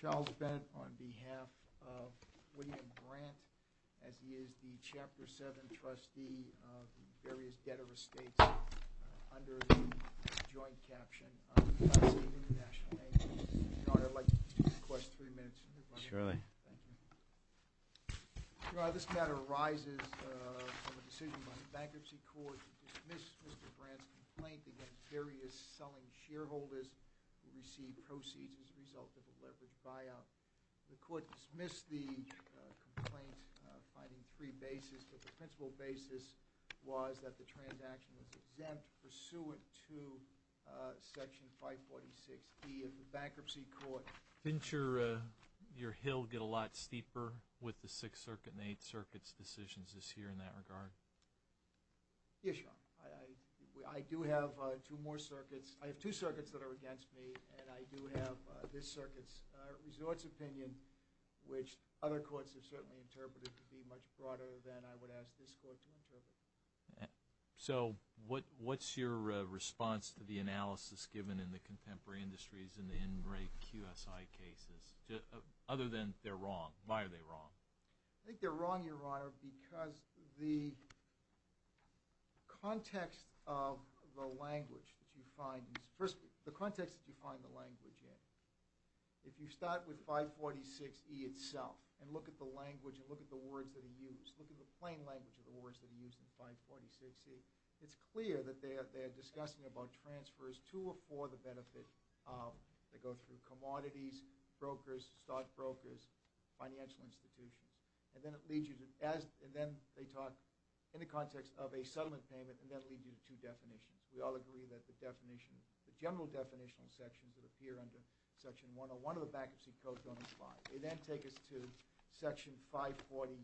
Charles Bennett on behalf of William Grant, as he is the Chapter 7 trustee of the various debtor estates under the joint caption of the United States International Bank. I would like to request three minutes. Surely. Thank you. This matter arises from a decision by the Bankruptcy Court to dismiss Mr. Grant's complaint against various selling shareholders who received proceeds as a result of a leveraged buyout. The Court dismissed the complaint finding three bases, but the principal basis was that the transaction was exempt pursuant to Section 546B of the Bankruptcy Court. Didn't your hill get a lot steeper with the Sixth Circuit and Eighth Circuit's decisions this year in that regard? Yes, Your Honor. I do have two more circuits. I have two circuits that are against me, and I do have this circuit's resorts opinion, which other courts have certainly interpreted to be much broader than I would ask this court to interpret. So, what's your response to the analysis given in the contemporary industries in the in-break QSI cases, other than they're wrong? Why are they wrong? I think they're wrong, Your Honor, because the context of the language that you find is, first, the context that you find the language in. If you start with 546E itself and look at the language and look at the words that are used in 546E, it's clear that they're discussing about transfers to or for the benefit that go through commodities, brokers, stockbrokers, financial institutions. And then they talk in the context of a settlement payment, and that leads you to two definitions. We all agree that the general definitional sections that appear under Section 101 of the Bankruptcy Code don't apply. They then take us to Section 541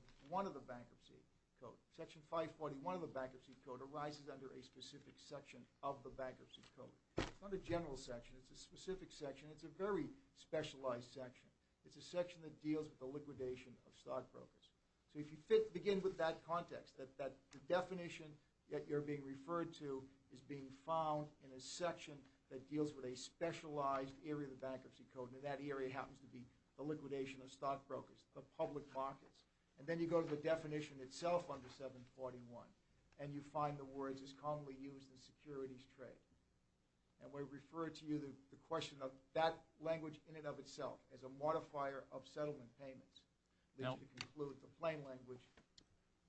of the Bankruptcy Code. Section 541 of the Bankruptcy Code arises under a specific section of the Bankruptcy Code. It's not a general section. It's a specific section. It's a very specialized section. It's a section that deals with the liquidation of stockbrokers. So, if you begin with that context, that the definition that you're being referred to is being found in a section that deals with a specialized area of the Bankruptcy Code, and that area happens to be the liquidation of stockbrokers, the public markets. And then you go to the definition itself under 741, and you find the words as commonly used in securities trade. And we refer to you the question of that language in and of itself as a modifier of settlement payments, which would conclude the plain language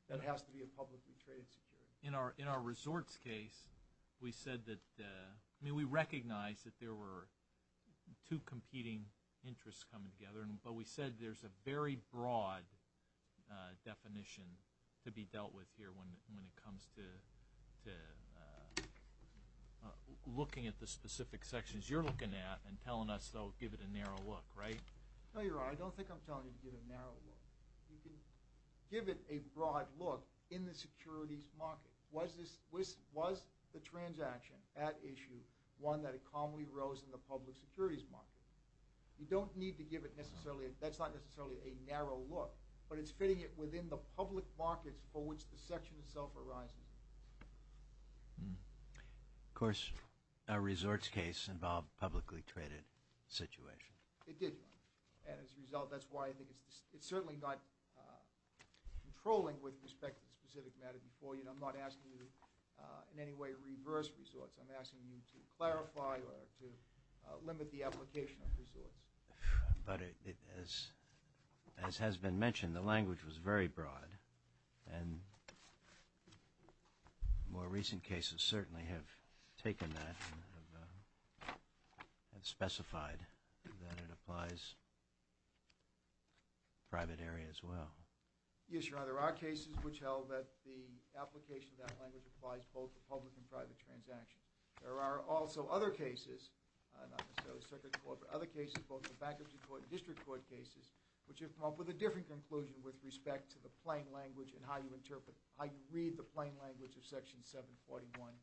that it has to be a publicly traded security. In our resorts case, we said that – I mean, we recognize that there were two competing interests coming together, but we said there's a very broad definition to be dealt with here when it comes to looking at the specific sections you're looking at and telling us, though, give it a narrow look, right? No, Your Honor. I don't think I'm telling you to give a narrow look. You can give it a broad look in the securities market. Was the transaction at issue one that it commonly rose in the public securities market? You don't need to give it necessarily – that's not necessarily a narrow look, but it's fitting it within the public markets for which the section itself arises. Of course, our resorts case involved publicly traded situation. It did, Your Honor. And as a result, that's why I think it's certainly not controlling with respect to the specific matter before you, and I'm not asking you in any way to reverse resorts. I'm asking you to clarify or to limit the application of resorts. But as has been mentioned, the language was very broad, and more recent cases certainly have taken that and specified that it applies to private areas as well. Yes, Your Honor. There are cases which held that the application of that language applies both to public and private transactions. There are also other cases, not necessarily circuit court, but other cases, both in the bankruptcy court and district court cases, which have come up with a different conclusion with respect to the plain language and how you interpret – how you read the plain language of Section 741,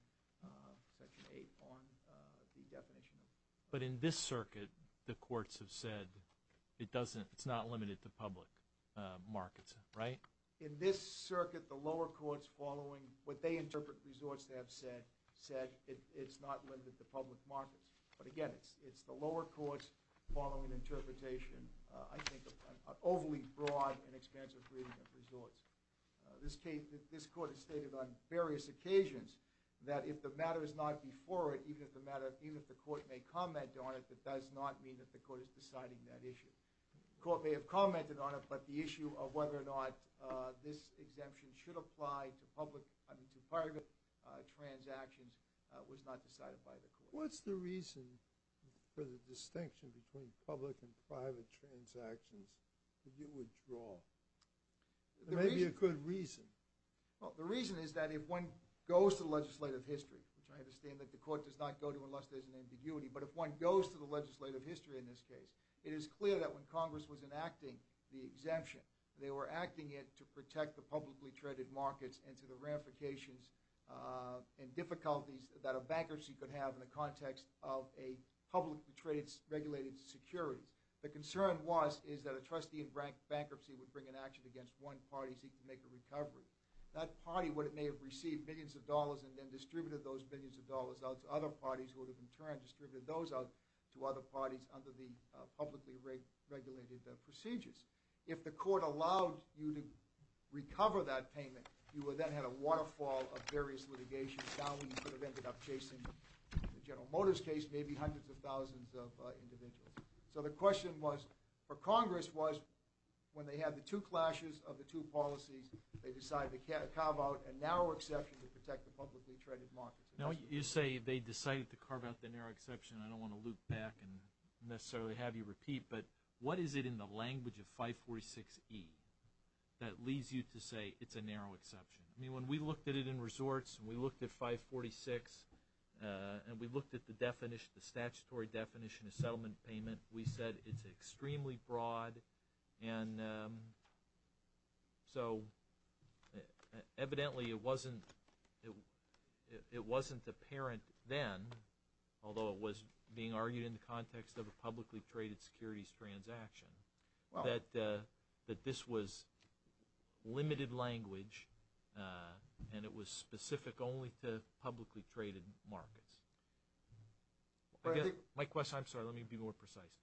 Section 8 on the definition of – But in this circuit, the courts have said it doesn't – it's not limited to public markets, right? In this circuit, the lower courts following what they interpret resorts to have said, said it's not limited to public markets. But again, it's the lower courts following interpretation, I think, of an overly broad and expansive reading of resorts. This case – this court has stated on various occasions that if the matter is not before it, even if the matter – even if the court may comment on it, that does not mean that the court is deciding that issue. The court may have commented on it, but the issue of whether or not this exemption should apply to public – I mean, to private transactions was not decided by the court. What's the reason for the distinction between public and private transactions to withdraw? Maybe a good reason. Well, the reason is that if one goes to the legislative history, which I understand that the court does not go to unless there's an ambiguity, but if one goes to the legislative history in this case, it is clear that when Congress was enacting the exemption, they were acting it to protect the publicly traded markets and to the ramifications and difficulties that a bankruptcy could have in the context of a publicly traded regulated security. The concern was – is that a trustee in bankruptcy would bring an action against one party seeking to make a recovery. That party may have received billions of dollars and then distributed those billions of dollars out to other parties who would have in turn distributed those out to other parties under the publicly regulated procedures. If the court allowed you to recover that payment, you would then have a waterfall of various litigations down that would have ended up chasing the General Motors case, maybe hundreds of thousands of individuals. So the question was – for Congress was when they had the two clashes of the two policies, they decided to carve out a narrow exception to protect the publicly traded markets. Now, you say they decided to carve out the narrow exception. I don't want to loop back and necessarily have you repeat, but what is it in the language of 546E that leads you to say it's a narrow exception? I mean, when we looked at it in resorts and we looked at 546 and we looked at the definition, the statutory definition of settlement payment, we said it's extremely broad. And so evidently it wasn't apparent then, although it was being argued in the context of a publicly traded securities transaction, that this was limited language and it was My question – I'm sorry, let me be more precise.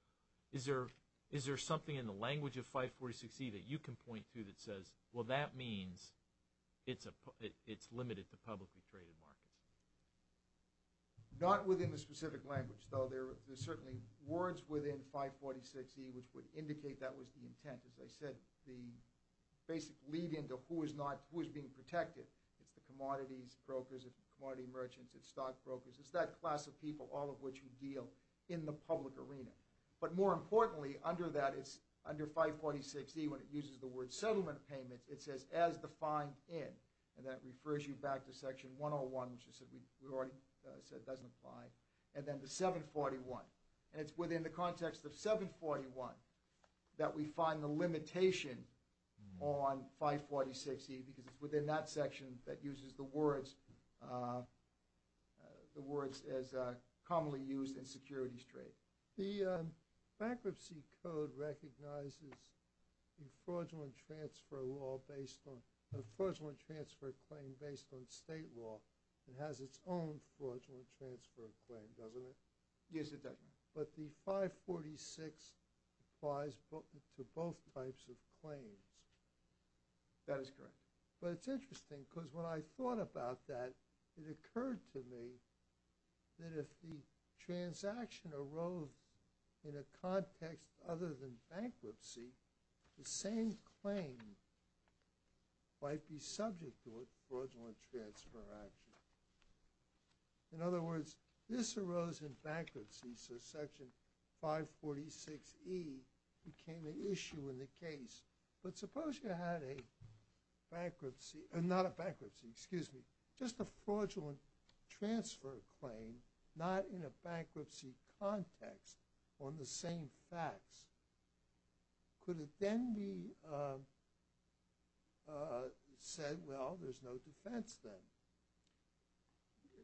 Is there something in the language of 546E that you can point to that says, well, that means it's limited to publicly traded markets? Not within the specific language, though. There are certainly words within 546E which would indicate that was the intent. As I said, the basic lead-in to who is not – who is being protected. It's the commodities brokers, it's the commodity merchants, it's stock brokers. It's that class of people, all of which we deal in the public arena. But more importantly, under that, it's – under 546E, when it uses the word settlement payment, it says as defined in. And that refers you back to section 101, which we already said doesn't apply. And then the 741. And it's within the context of 741 that we find the limitation on 546E because it's commonly used in securities trade. The bankruptcy code recognizes a fraudulent transfer law based on – a fraudulent transfer claim based on state law. It has its own fraudulent transfer claim, doesn't it? Yes, it does. But the 546 applies to both types of claims. That is correct. But it's interesting because when I thought about that, it occurred to me that if the transaction arose in a context other than bankruptcy, the same claim might be subject to a fraudulent transfer action. In other words, this arose in bankruptcy, so section 546E became an issue in the case. But suppose you had a bankruptcy – not a bankruptcy, excuse me – just a fraudulent transfer claim not in a bankruptcy context on the same facts. Could it then be said, well, there's no defense then?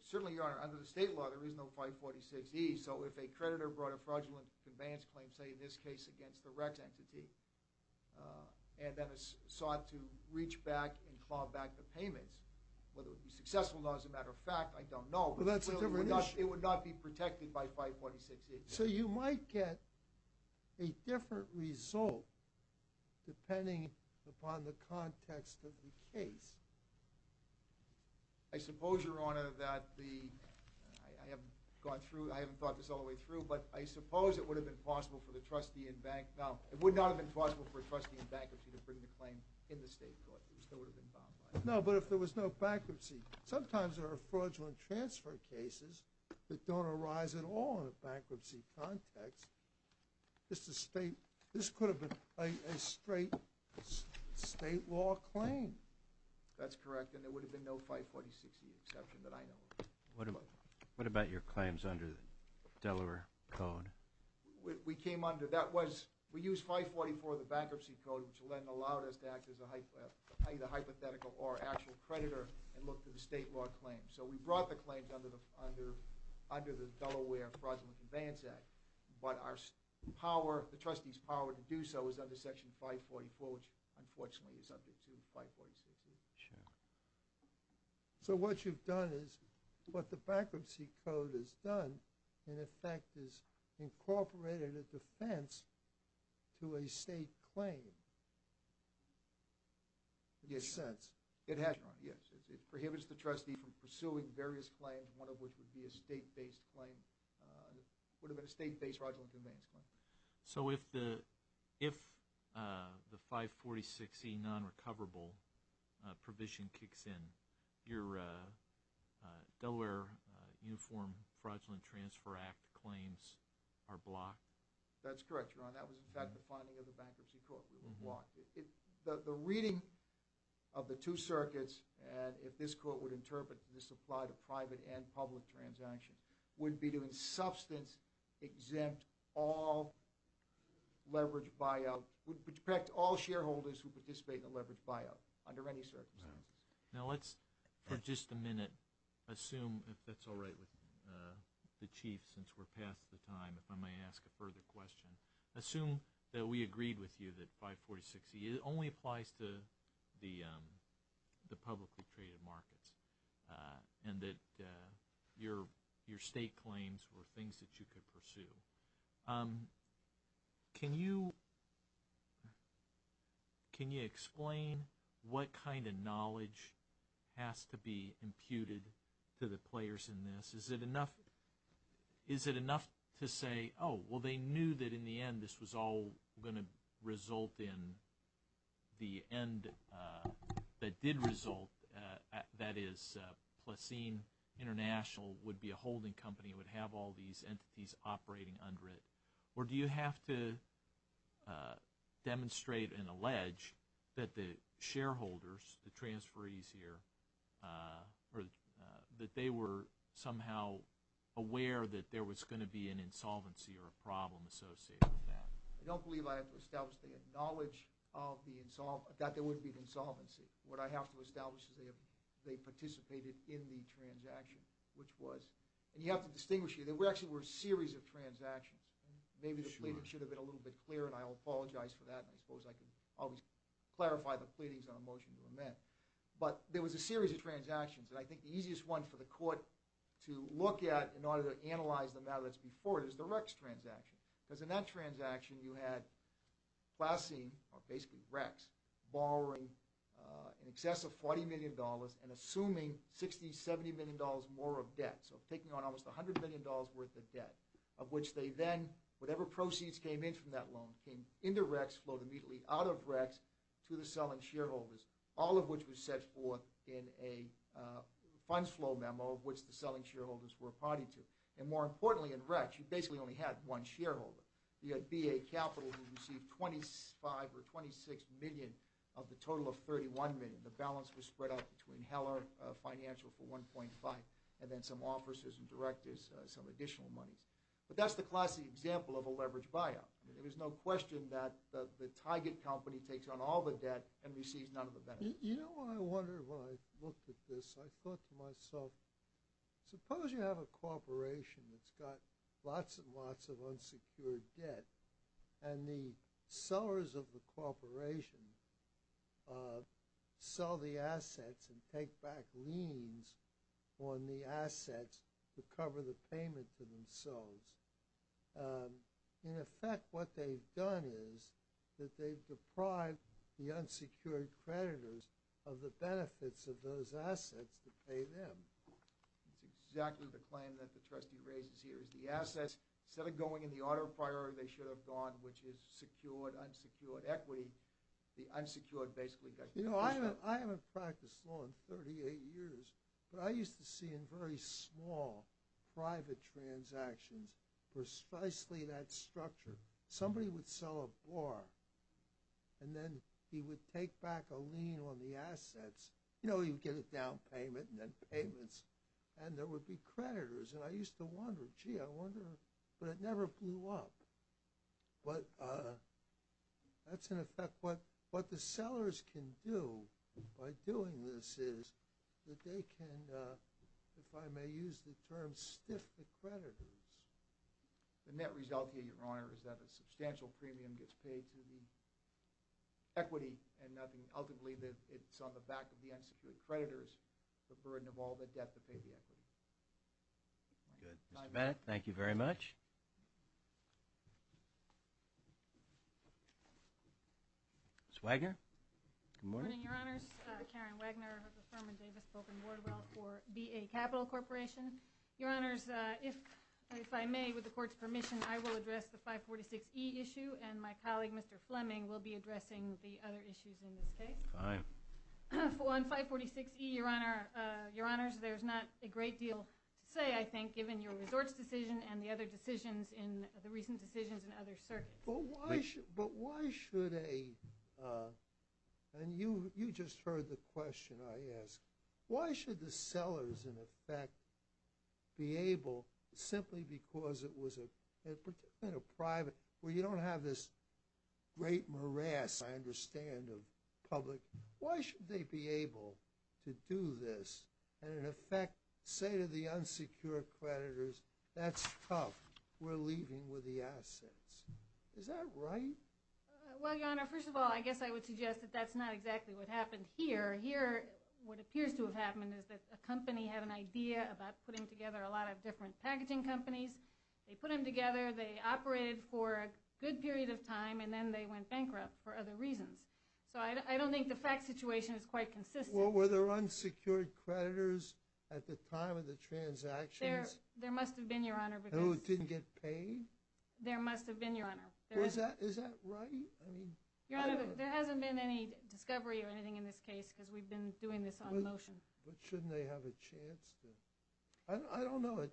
Certainly, Your Honor. Under the state law, there is no 546E. So if a creditor brought a fraudulent advance claim, say in this case against the REC entity, and then sought to reach back and claw back the payments, whether it would be successful or not as a matter of fact, I don't know. But that's a different issue. It would not be protected by 546E. So you might get a different result depending upon the context of the case. I suppose, Your Honor, that the – I haven't gone through – I haven't thought this all the way through, but I suppose it would have been possible for the trustee in bank – no, it would not have been possible for a trustee in bankruptcy to bring the claim in the state court. It still would have been bound by it. No, but if there was no bankruptcy, sometimes there are fraudulent transfer cases that don't arise at all in a bankruptcy context. This could have been a straight state law claim. That's correct. And there would have been no 546E exception that I know of. What about your claims under the Delaware Code? We came under – that was – we used 544 of the Bankruptcy Code, which then allowed us to act as either hypothetical or actual creditor and look to the state law claims. So we brought the claims under the Delaware Fraudulent Advance Act. But our power – the trustee's power to do so is under Section 544, which unfortunately is subject to 546E. Sure. So what you've done is – what the Bankruptcy Code has done, in effect, is incorporated a defense to a state claim. Yes. In a sense. It has, Your Honor, yes. It prohibits the trustee from pursuing various claims, one of which would be a state-based fraudulent advance claim. So if the 546E non-recoverable provision kicks in, your Delaware Uniform Fraudulent Transfer Act claims are blocked? That's correct, Your Honor. That was, in fact, the finding of the Bankruptcy Court. They were blocked. The reading of the two circuits – and if this Court would interpret, this applied to would be to in substance exempt all leveraged buyout – would protect all shareholders who participate in a leveraged buyout under any circumstances. Now, let's for just a minute assume, if that's all right with the Chief, since we're past the time, if I may ask a further question. Assume that we agreed with you that 546E only applies to the publicly traded markets and that your state claims were things that you could pursue. Can you explain what kind of knowledge has to be imputed to the players in this? Is it enough to say, oh, well, they knew that in the end this was all going to result in that did result, that is, Placine International would be a holding company, would have all these entities operating under it? Or do you have to demonstrate and allege that the shareholders, the transferees here, that they were somehow aware that there was going to be an insolvency or a problem associated with that? I don't believe I have to establish they had knowledge that there would be an insolvency. What I have to establish is they participated in the transaction, which was – and you have to distinguish here. There actually were a series of transactions. Maybe the pleading should have been a little bit clearer, and I apologize for that. I suppose I can always clarify the pleadings on a motion to amend. But there was a series of transactions, and I think the easiest one for the court to look at in order to analyze the matter that's before it is the Rex transaction, because in that transaction you had Placine, or basically Rex, borrowing in excess of $40 million and assuming $60, $70 million more of debt, so taking on almost $100 million worth of debt, of which they then, whatever proceeds came in from that loan came into Rex, flowed immediately out of Rex to the selling shareholders, all of which was set forth in a funds flow memo of which the selling shareholders were a party to. And more importantly, in Rex, you basically only had one shareholder. You had BA Capital, who received $25 or $26 million of the total of $31 million. The balance was spread out between Heller Financial for $1.5, and then some officers and directors, some additional monies. But that's the classic example of a leveraged buyout. There was no question that the target company takes on all the debt and receives none of the benefits. You know what I wondered when I looked at this? I thought to myself, suppose you have a corporation that's got lots and lots of unsecured debt, and the sellers of the corporation sell the assets and take back liens on the assets to cover the payment for themselves. In effect, what they've done is that they've deprived the unsecured creditors of the benefits of those assets to pay them. That's exactly the claim that the trustee raises here, is the assets, instead of going in the order of priority they should have gone, which is secured, unsecured, equity, the unsecured basically got... You know, I haven't practiced law in 38 years, but I used to see in very small private transactions precisely that structure. Somebody would sell a bar, and then he would take back a lien on the assets. You know, he would get a down payment and then payments, and there would be creditors. And I used to wonder, gee, I wonder... But it never blew up. But that's in effect what the sellers can do by doing this is that they can, if I may use the term, stiff the creditors. The net result here, Your Honor, is that a substantial premium gets paid to the equity, and ultimately it's on the back of the unsecured creditors, the burden of all the debt to pay the equity. Good. Mr. Bennett, thank you very much. Ms. Wagner, good morning. Good morning, Your Honors. Karen Wagner of the Furman Davis Book and Board of Wealth for B.A. Capital Corporation. Your Honors, if I may, with the Court's permission, I will address the 546E issue, and my colleague Mr. Fleming will be addressing the other issues in this case. Fine. On 546E, Your Honors, there's not a great deal to say, I think, given your resorts decision and the other decisions in the recent decisions in other circuits. But why should a, and you just heard the question I asked, why should the sellers, in effect, be able, simply because it was a private, where you don't have this great morass, I understand, of public, why should they be able to do this and, in effect, say to the seller, it's tough, we're leaving with the assets. Is that right? Well, Your Honor, first of all, I guess I would suggest that that's not exactly what happened here. Here, what appears to have happened is that a company had an idea about putting together a lot of different packaging companies. They put them together, they operated for a good period of time, and then they went bankrupt for other reasons. So I don't think the fact situation is quite consistent. Well, were there unsecured creditors at the time of the transactions? There must have been, Your Honor. Who didn't get paid? There must have been, Your Honor. Is that right? I mean, I don't know. Your Honor, there hasn't been any discovery or anything in this case because we've been doing this on motion. But shouldn't they have a chance to? I don't know.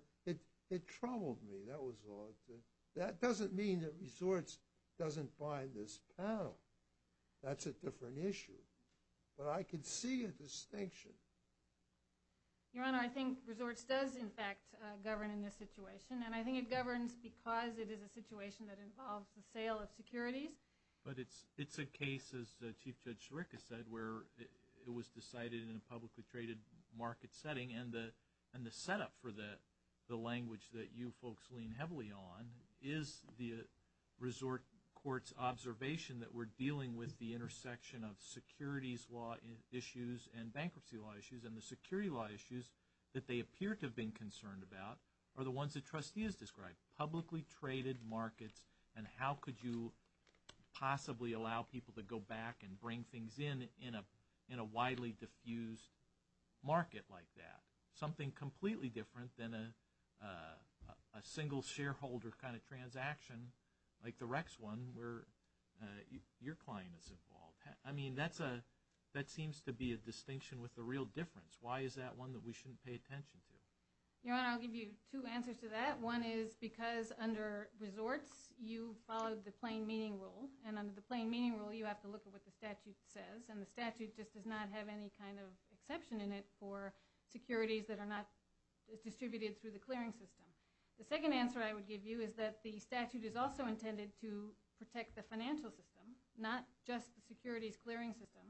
It troubled me. That was odd. That doesn't mean that resorts doesn't buy this panel. That's a different issue. But I can see a distinction. Your Honor, I think resorts does, in fact, govern in this situation. And I think it governs because it is a situation that involves the sale of securities. But it's a case, as Chief Judge Scharick has said, where it was decided in a publicly traded market setting. And the setup for the language that you folks lean heavily on is the resort court's observation that we're dealing with the intersection of securities law issues and bankruptcy law issues. And the security law issues that they appear to have been concerned about are the ones that trustees described. Publicly traded markets and how could you possibly allow people to go back and bring things in in a widely diffused market like that. Something completely different than a single shareholder kind of transaction like the Rex one where your client is involved. I mean, that seems to be a distinction with a real difference. Why is that one that we shouldn't pay attention to? Your Honor, I'll give you two answers to that. One is because under resorts, you followed the plain meaning rule. And under the plain meaning rule, you have to look at what the statute says. And the statute just does not have any kind of exception in it for securities that are not distributed through the clearing system. The second answer I would give you is that the statute is also intended to protect the financial system, not just the securities clearing system.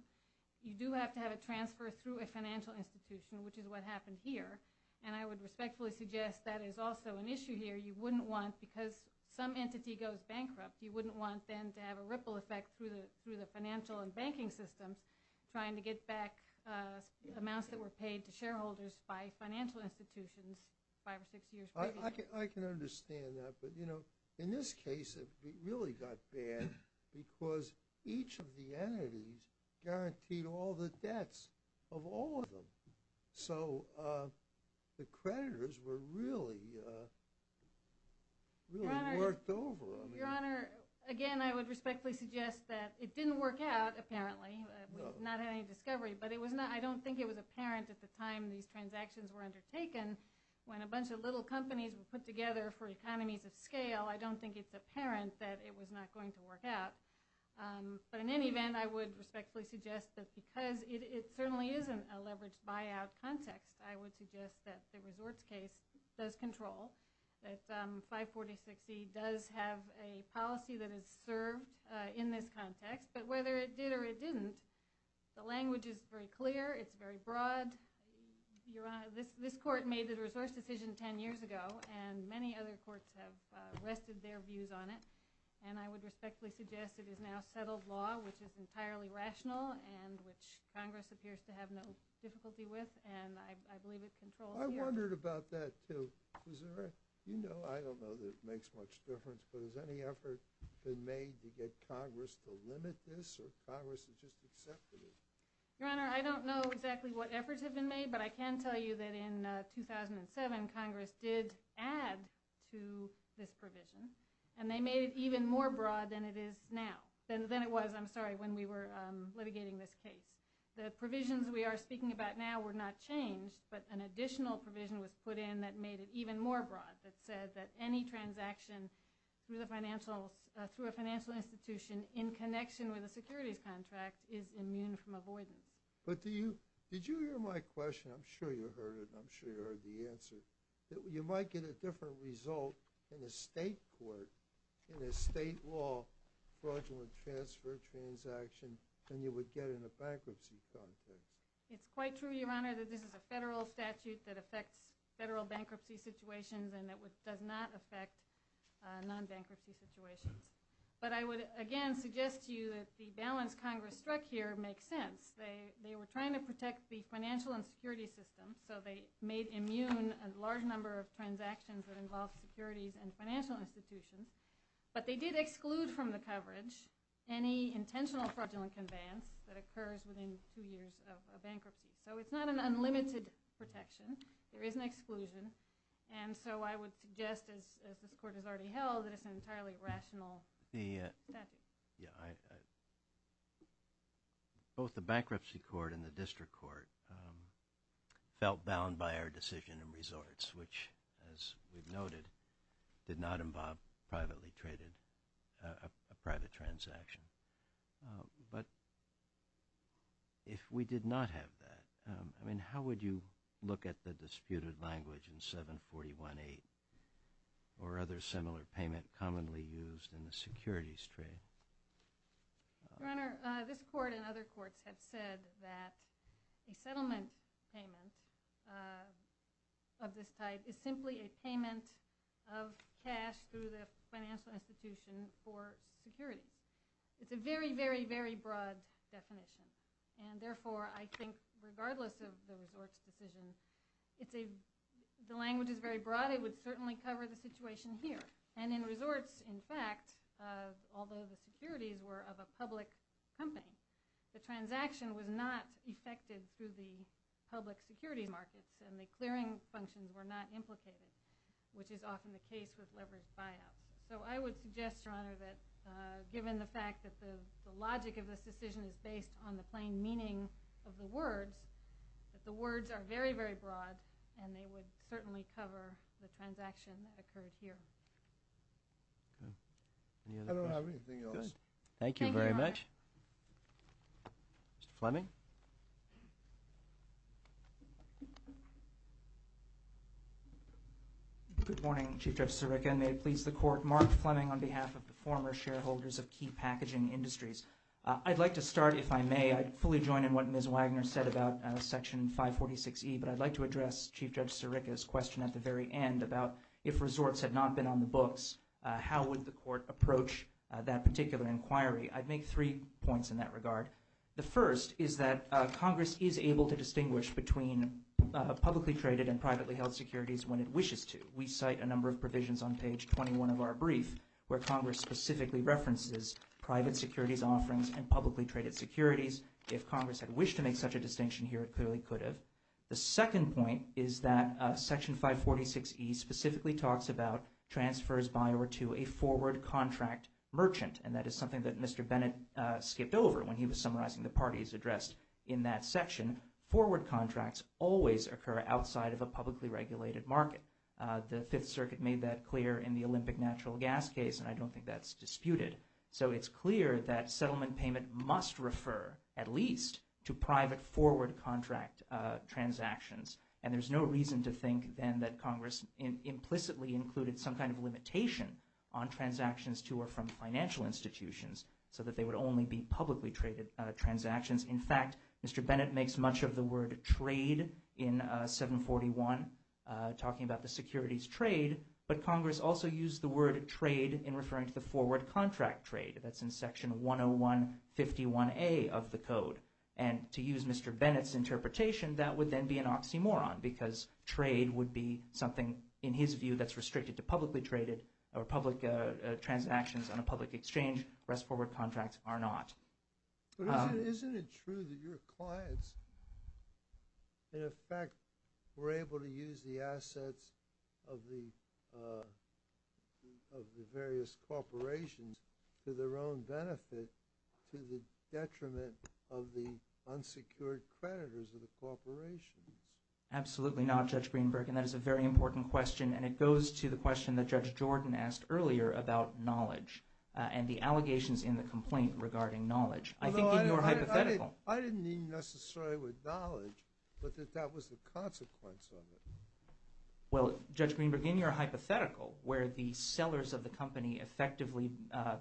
You do have to have a transfer through a financial institution, which is what happened here. And I would respectfully suggest that is also an issue here. You wouldn't want, because some entity goes bankrupt, you wouldn't want then to have a ripple effect through the financial and banking systems trying to get back amounts that were I can understand that. But in this case, it really got bad because each of the entities guaranteed all the debts of all of them. So the creditors were really worked over. Your Honor, again, I would respectfully suggest that it didn't work out, apparently. We've not had any discovery. But I don't think it was apparent at the time these transactions were undertaken when a economies of scale, I don't think it's apparent that it was not going to work out. But in any event, I would respectfully suggest that because it certainly isn't a leveraged buyout context, I would suggest that the resorts case does control, that 546E does have a policy that is served in this context. But whether it did or it didn't, the language is very clear. It's very broad. Your Honor, this court made the resource decision 10 years ago. And many other courts have rested their views on it. And I would respectfully suggest it is now settled law, which is entirely rational and which Congress appears to have no difficulty with. And I believe it controls here. I wondered about that, too. You know, I don't know that it makes much difference. But has any effort been made to get Congress to limit this or Congress has just accepted it? Your Honor, I don't know exactly what efforts have been made, but I can tell you that in 2007, Congress did add to this provision. And they made it even more broad than it is now, than it was, I'm sorry, when we were litigating this case. The provisions we are speaking about now were not changed, but an additional provision was put in that made it even more broad that said that any transaction through a financial institution in connection with a securities contract is immune from avoidance. But did you hear my question? I'm sure you heard it. I'm sure you heard the answer. You might get a different result in a state court, in a state law fraudulent transfer transaction than you would get in a bankruptcy context. It's quite true, Your Honor, that this is a federal statute that affects federal bankruptcy situations and that does not affect non-bankruptcy situations. But I would again suggest to you that the balance Congress struck here makes sense. They were trying to protect the financial and security systems, so they made immune a large number of transactions that involved securities and financial institutions. But they did exclude from the coverage any intentional fraudulent conveyance that occurs within two years of a bankruptcy. So it's not an unlimited protection. There is an exclusion. And so I would suggest, as this Court has already held, that it's an entirely rational statute. Both the Bankruptcy Court and the District Court felt bound by our decision in resorts, which, as we've noted, did not involve privately traded, a private transaction. But if we did not have that, I mean, how would you look at the disputed language in 741-8 or other similar payment commonly used in the securities trade? Your Honor, this Court and other courts have said that a settlement payment of this type is simply a payment of cash through the financial institution for securities. It's a very, very, very broad definition. And therefore, I think, regardless of the resorts decision, the language is very broad. It would certainly cover the situation here. And in resorts, in fact, although the securities were of a public company, the transaction was not effected through the public securities markets, and the clearing functions were not implicated, which is often the case with leveraged buyouts. So I would suggest, Your Honor, that given the fact that the logic of this decision is based on the plain meaning of the words, that the words are very, very broad, and they would certainly cover the transaction that occurred here. Okay. Any other questions? I don't have anything else. Thank you very much. Thank you, Your Honor. Mr. Fleming? Good morning, Chief Judge Sirica, and may it please the Court. Mark Fleming on behalf of the former shareholders of Key Packaging Industries. I'd like to start, if I may, I'd fully join in what Ms. Wagner said about Section 546E, but I'd like to address Chief Judge Sirica's question at the very end about if resorts had not been on the books, how would the Court approach that particular inquiry? I'd make three points in that regard. The first is that Congress is able to distinguish between publicly traded and privately held securities when it wishes to. We cite a number of provisions on page 21 of our brief where Congress specifically references private securities offerings and publicly traded securities. If Congress had wished to make such a distinction here, it clearly could have. The second point is that Section 546E specifically talks about transfers by or to a forward contract merchant, and that is something that Mr. Bennett skipped over when he was summarizing the parties addressed in that section. Forward contracts always occur outside of a publicly regulated market. The Fifth Circuit made that clear in the Olympic natural gas case, and I don't think that's disputed. So it's clear that settlement payment must refer, at least, to private forward contract transactions, and there's no reason to think then that Congress implicitly included some kind of limitation on transactions to or from financial institutions so that they would only be publicly traded transactions. In fact, Mr. Bennett makes much of the word trade in 741, talking about the securities trade, but Congress also used the word trade in referring to the forward contract trade. That's in Section 10151A of the Code. And to use Mr. Bennett's interpretation, that would then be an oxymoron because trade would be something, in his view, that's restricted to publicly traded or public transactions on a public exchange. Rest forward contracts are not. Isn't it true that your clients, in effect, were able to use the assets of the various corporations to their own benefit to the detriment of the unsecured creditors of the corporations? Absolutely not, Judge Greenberg, and that is a very important question, and it goes to the question that Judge Jordan asked earlier about knowledge and the allegations in the complaint regarding knowledge. I think in your hypothetical. I didn't mean necessarily with knowledge, but that that was the consequence of it. Well, Judge Greenberg, in your hypothetical, where the sellers of the company effectively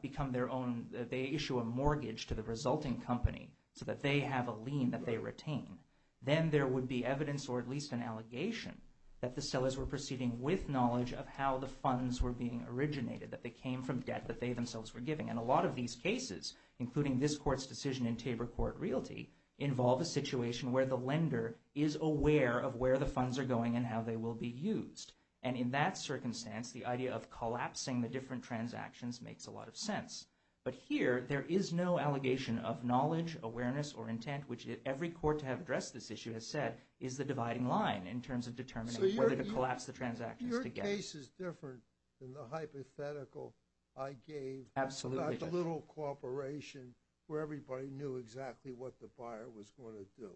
become their own, they issue a mortgage to the resulting company so that they have a lien that they retain, then there would be evidence, or at least an allegation, that the sellers were proceeding with knowledge of how the funds were being originated, that they came from debt that they themselves were giving. And a lot of these cases, including this Court's decision in Tabor Court Realty, involve a situation where the lender is aware of where the funds are going and how they will be used. And in that circumstance, the idea of collapsing the different transactions makes a lot of sense. But here, there is no allegation of knowledge, awareness, or intent, which every court to have addressed this issue has said is the dividing line in terms of determining whether to collapse the transactions. So your case is different than the hypothetical I gave. Absolutely, Judge. Not a little cooperation where everybody knew exactly what the buyer was going to do.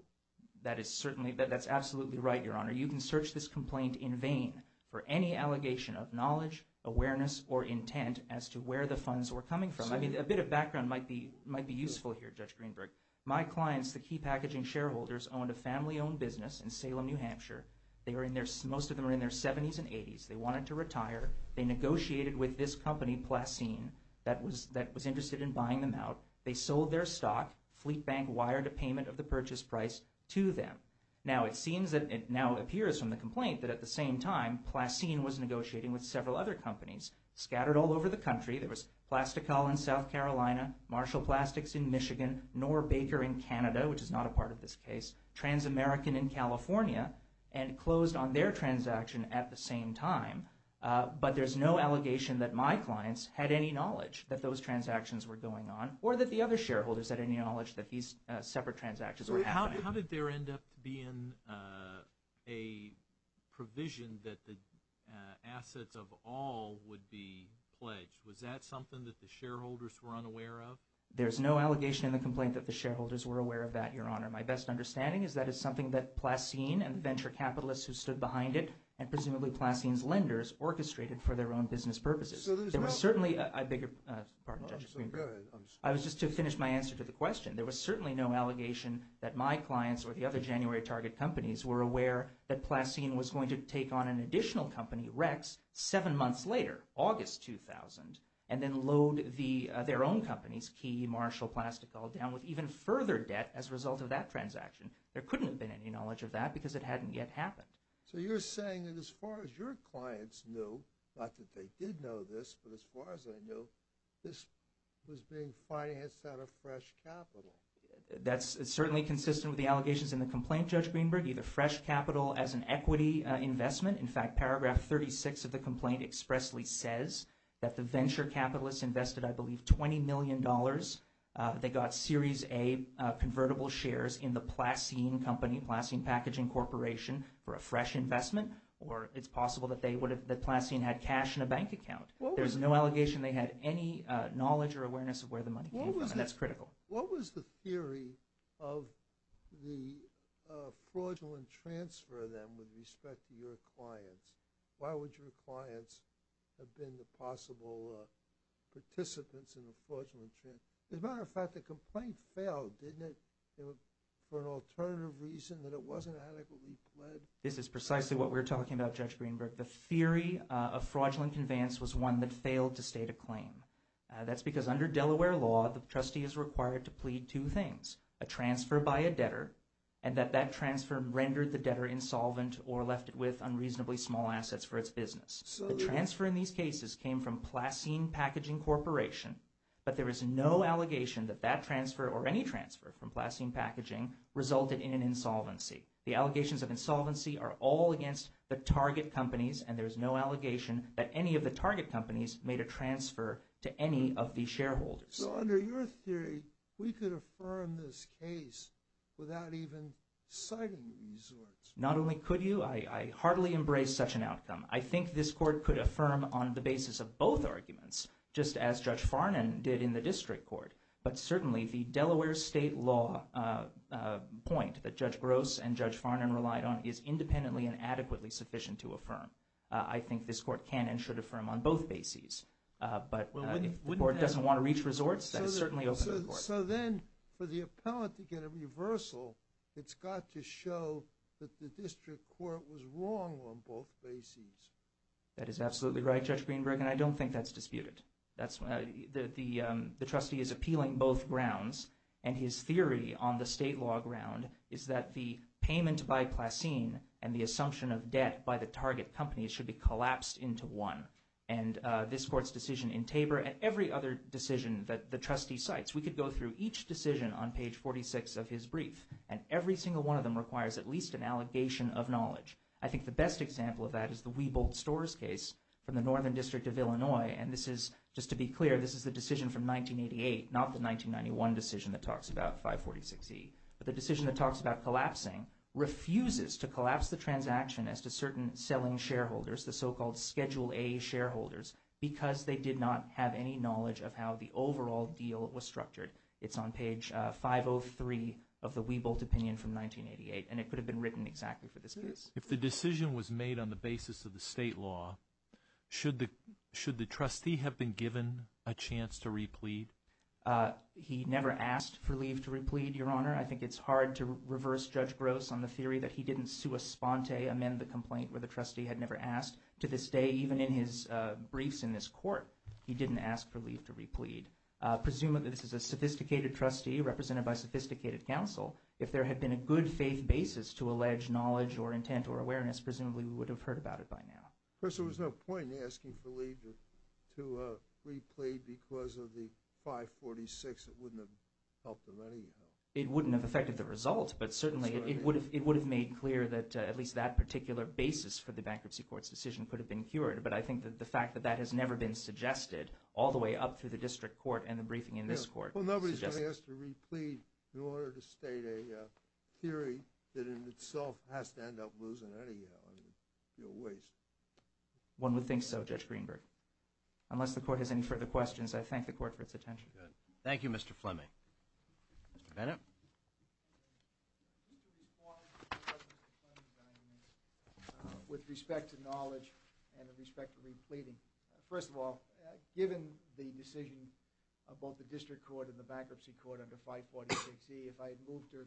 That is certainly, that's absolutely right, Your Honor. You can search this complaint in vain for any allegation of knowledge, awareness, or intent as to where the funds were coming from. I mean, a bit of background might be useful here, Judge Greenberg. My clients, the key packaging shareholders, owned a family-owned business in Salem, New Hampshire. Most of them were in their 70s and 80s. They wanted to retire. They negotiated with this company, Placine, that was interested in buying them out. They sold their stock. Fleet Bank wired a payment of the purchase price to them. Now, it seems that it now appears from the complaint that at the same time, there was Plastical in South Carolina, Marshall Plastics in Michigan, Knorr Baker in Canada, which is not a part of this case, Transamerican in California, and closed on their transaction at the same time. But there's no allegation that my clients had any knowledge that those transactions were going on or that the other shareholders had any knowledge that these separate transactions were happening. How did there end up being a provision that the assets of all would be pledged? Was that something that the shareholders were unaware of? There's no allegation in the complaint that the shareholders were aware of that, Your Honor. My best understanding is that it's something that Placine and the venture capitalists who stood behind it and presumably Placine's lenders orchestrated for their own business purposes. There was certainly a bigger – pardon, Judge Greenberg. I was just to finish my answer to the question. There was certainly no allegation that my clients or the other January target companies were aware that Placine was going to take on an additional company, Rex, seven months later, August 2000, and then load their own companies, Key, Marshall, Plastical, down with even further debt as a result of that transaction. There couldn't have been any knowledge of that because it hadn't yet happened. So you're saying that as far as your clients knew, not that they did know this, but as far as they knew, this was being financed out of fresh capital. That's certainly consistent with the allegations in the complaint, Judge Greenberg, either fresh capital as an equity investment. In fact, paragraph 36 of the complaint expressly says that the venture capitalists invested, I believe, $20 million. They got Series A convertible shares in the Placine company, Placine Packaging Corporation, for a fresh investment, or it's possible that Placine had cash in a bank account. There's no allegation they had any knowledge or awareness of where the money came from. That's critical. What was the theory of the fraudulent transfer, then, with respect to your clients? Why would your clients have been the possible participants in the fraudulent transfer? As a matter of fact, the complaint failed, didn't it, for an alternative reason, that it wasn't adequately pled? This is precisely what we're talking about, Judge Greenberg. The theory of fraudulent conveyance was one that failed to state a claim. That's because under Delaware law, the trustee is required to plead two things, a transfer by a debtor and that that transfer rendered the debtor insolvent or left it with unreasonably small assets for its business. The transfer in these cases came from Placine Packaging Corporation, but there is no allegation that that transfer or any transfer from Placine Packaging resulted in an insolvency. The allegations of insolvency are all against the target companies, and there's no allegation that any of the target companies made a transfer to any of the shareholders. So under your theory, we could affirm this case without even citing these words. Not only could you, I hardly embrace such an outcome. I think this court could affirm on the basis of both arguments, just as Judge Farnan did in the district court. But certainly the Delaware state law point that Judge Gross and Judge Farnan relied on is independently and adequately sufficient to affirm. I think this court can and should affirm on both bases. But if the court doesn't want to reach resorts, that is certainly open to the court. So then for the appellant to get a reversal, it's got to show that the district court was wrong on both bases. That is absolutely right, Judge Greenberg, and I don't think that's disputed. The trustee is appealing both grounds, and his theory on the state law ground is that the payment by Placine and the assumption of debt by the target companies should be collapsed into one. And this court's decision in Tabor and every other decision that the trustee cites, we could go through each decision on page 46 of his brief, and every single one of them requires at least an allegation of knowledge. I think the best example of that is the Weebold Storrs case from the Northern District of Illinois, and this is, just to be clear, this is the decision from 1988, not the 1991 decision that talks about 546E. But the decision that talks about collapsing refuses to collapse the transaction as to certain selling shareholders, the so-called Schedule A shareholders, because they did not have any knowledge of how the overall deal was structured. It's on page 503 of the Weebold opinion from 1988, and it could have been written exactly for this case. If the decision was made on the basis of the state law, should the trustee have been given a chance to replete? He never asked for leave to replete, Your Honor. I think it's hard to reverse Judge Gross on the theory that he didn't sua sponte, amend the complaint where the trustee had never asked. To this day, even in his briefs in this court, he didn't ask for leave to replete. Presumably, this is a sophisticated trustee represented by sophisticated counsel. If there had been a good faith basis to allege knowledge or intent or awareness, presumably we would have heard about it by now. Of course, there was no point in asking for leave to replete because of the 546. It wouldn't have helped him anyhow. It wouldn't have affected the result, but certainly it would have made clear that at least that particular basis for the bankruptcy court's decision could have been cured. But I think that the fact that that has never been suggested, all the way up through the district court and the briefing in this court. Well, nobody's going to ask to replete in order to state a theory that in itself has to end up losing any waste. One would think so, Judge Greenberg. Unless the court has any further questions, I thank the court for its attention. Thank you, Mr. Fleming. Mr. Bennett? With respect to knowledge and with respect to repleting, first of all, given the decision of both the district court and the bankruptcy court under 546E, if I had moved to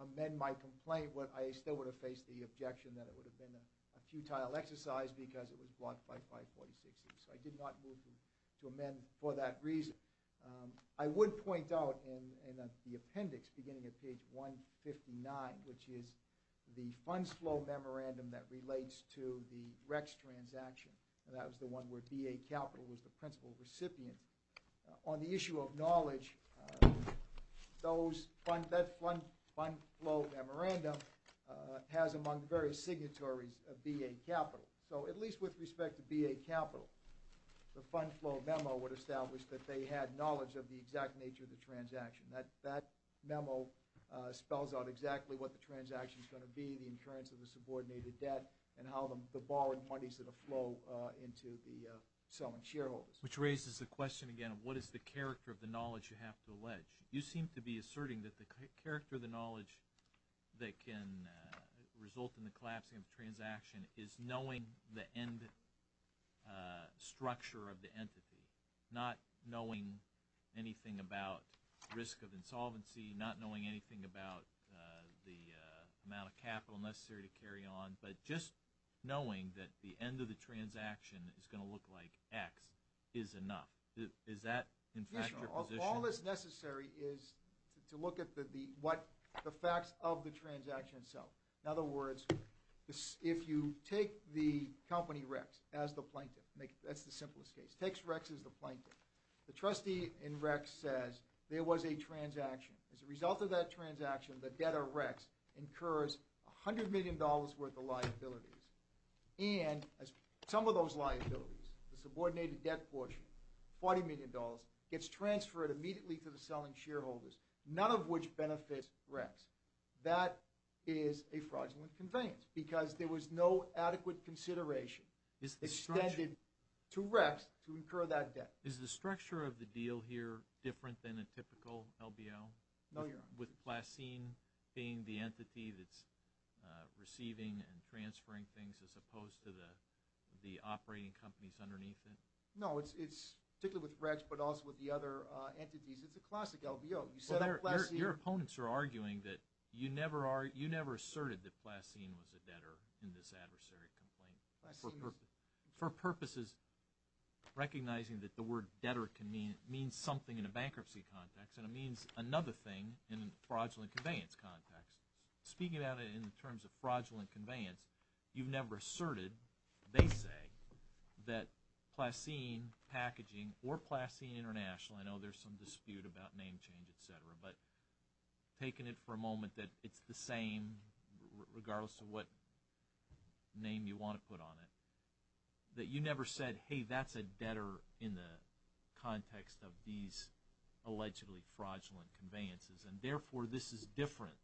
amend my complaint, I still would have faced the objection that it would have been a futile exercise because it was blocked by 546E. So I did not move to amend for that reason. I would point out in the appendix beginning at page 159, which is the funds flow memorandum that relates to the Rex transaction, and that was the one where BA Capital was the principal recipient. On the issue of knowledge, that funds flow memorandum has among the various signatories of BA Capital. So at least with respect to BA Capital, the funds flow memo would establish that they had knowledge of the exact nature of the transaction. That memo spells out exactly what the transaction is going to be, the incurrence of the subordinated debt, and how the borrowing parties are going to flow into the selling shareholders. Which raises the question again of what is the character of the knowledge you have to allege. You seem to be asserting that the character of the knowledge that can result in the collapsing of the transaction is knowing the end structure of the entity, not knowing anything about risk of insolvency, not knowing anything about the amount of capital necessary to carry on, but just knowing that the end of the transaction is going to look like X is enough. Is that, in fact, your position? All that's necessary is to look at the facts of the transaction itself. In other words, if you take the company Rex as the plaintiff, that's the simplest case, takes Rex as the plaintiff, the trustee in Rex says there was a transaction. As a result of that transaction, the debt of Rex incurs $100 million worth of liabilities. And some of those liabilities, the subordinated debt portion, $40 million, gets transferred immediately to the selling shareholders, none of which benefits Rex. That is a fraudulent conveyance because there was no adequate consideration extended to Rex to incur that debt. Is the structure of the deal here different than a typical LBL? No, Your Honor. With Placine being the entity that's receiving and transferring things as opposed to the operating companies underneath it? No, particularly with Rex but also with the other entities, it's a classic LBL. Your opponents are arguing that you never asserted that Placine was a debtor in this adversary complaint for purposes recognizing that the word debtor means something in a bankruptcy context and it means another thing in a fraudulent conveyance context. Speaking about it in terms of fraudulent conveyance, you've never asserted, they say, that Placine Packaging or Placine International, I know there's some dispute about name change, et cetera, but taking it for a moment that it's the same regardless of what name you want to put on it, that you never said, hey, that's a debtor in the context of these allegedly fraudulent conveyances and, therefore, this is different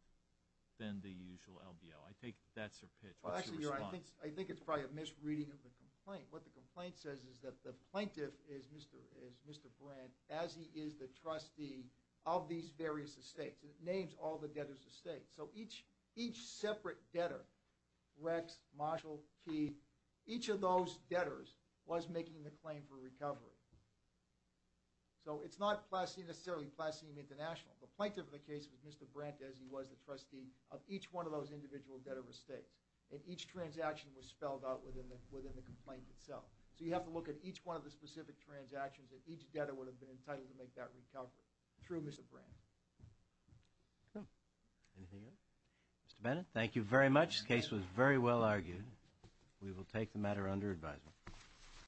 than the usual LBL. I think that's your pitch. What's your response? Well, actually, Your Honor, I think it's probably a misreading of the complaint. What the complaint says is that the plaintiff is Mr. Brandt as he is the trustee of these various estates. It names all the debtors' estates. So each separate debtor, Rex, Marshall, Keith, each of those debtors was making the claim for recovery. So it's not necessarily Placine International. The plaintiff of the case was Mr. Brandt as he was the trustee of each one of those individual debtor estates, and each transaction was spelled out within the complaint itself. So you have to look at each one of the specific transactions that each debtor would have been entitled to make that recovery through Mr. Brandt. Okay. Anything else? Mr. Bennett, thank you very much. The case was very well argued. We will take the matter under advisement.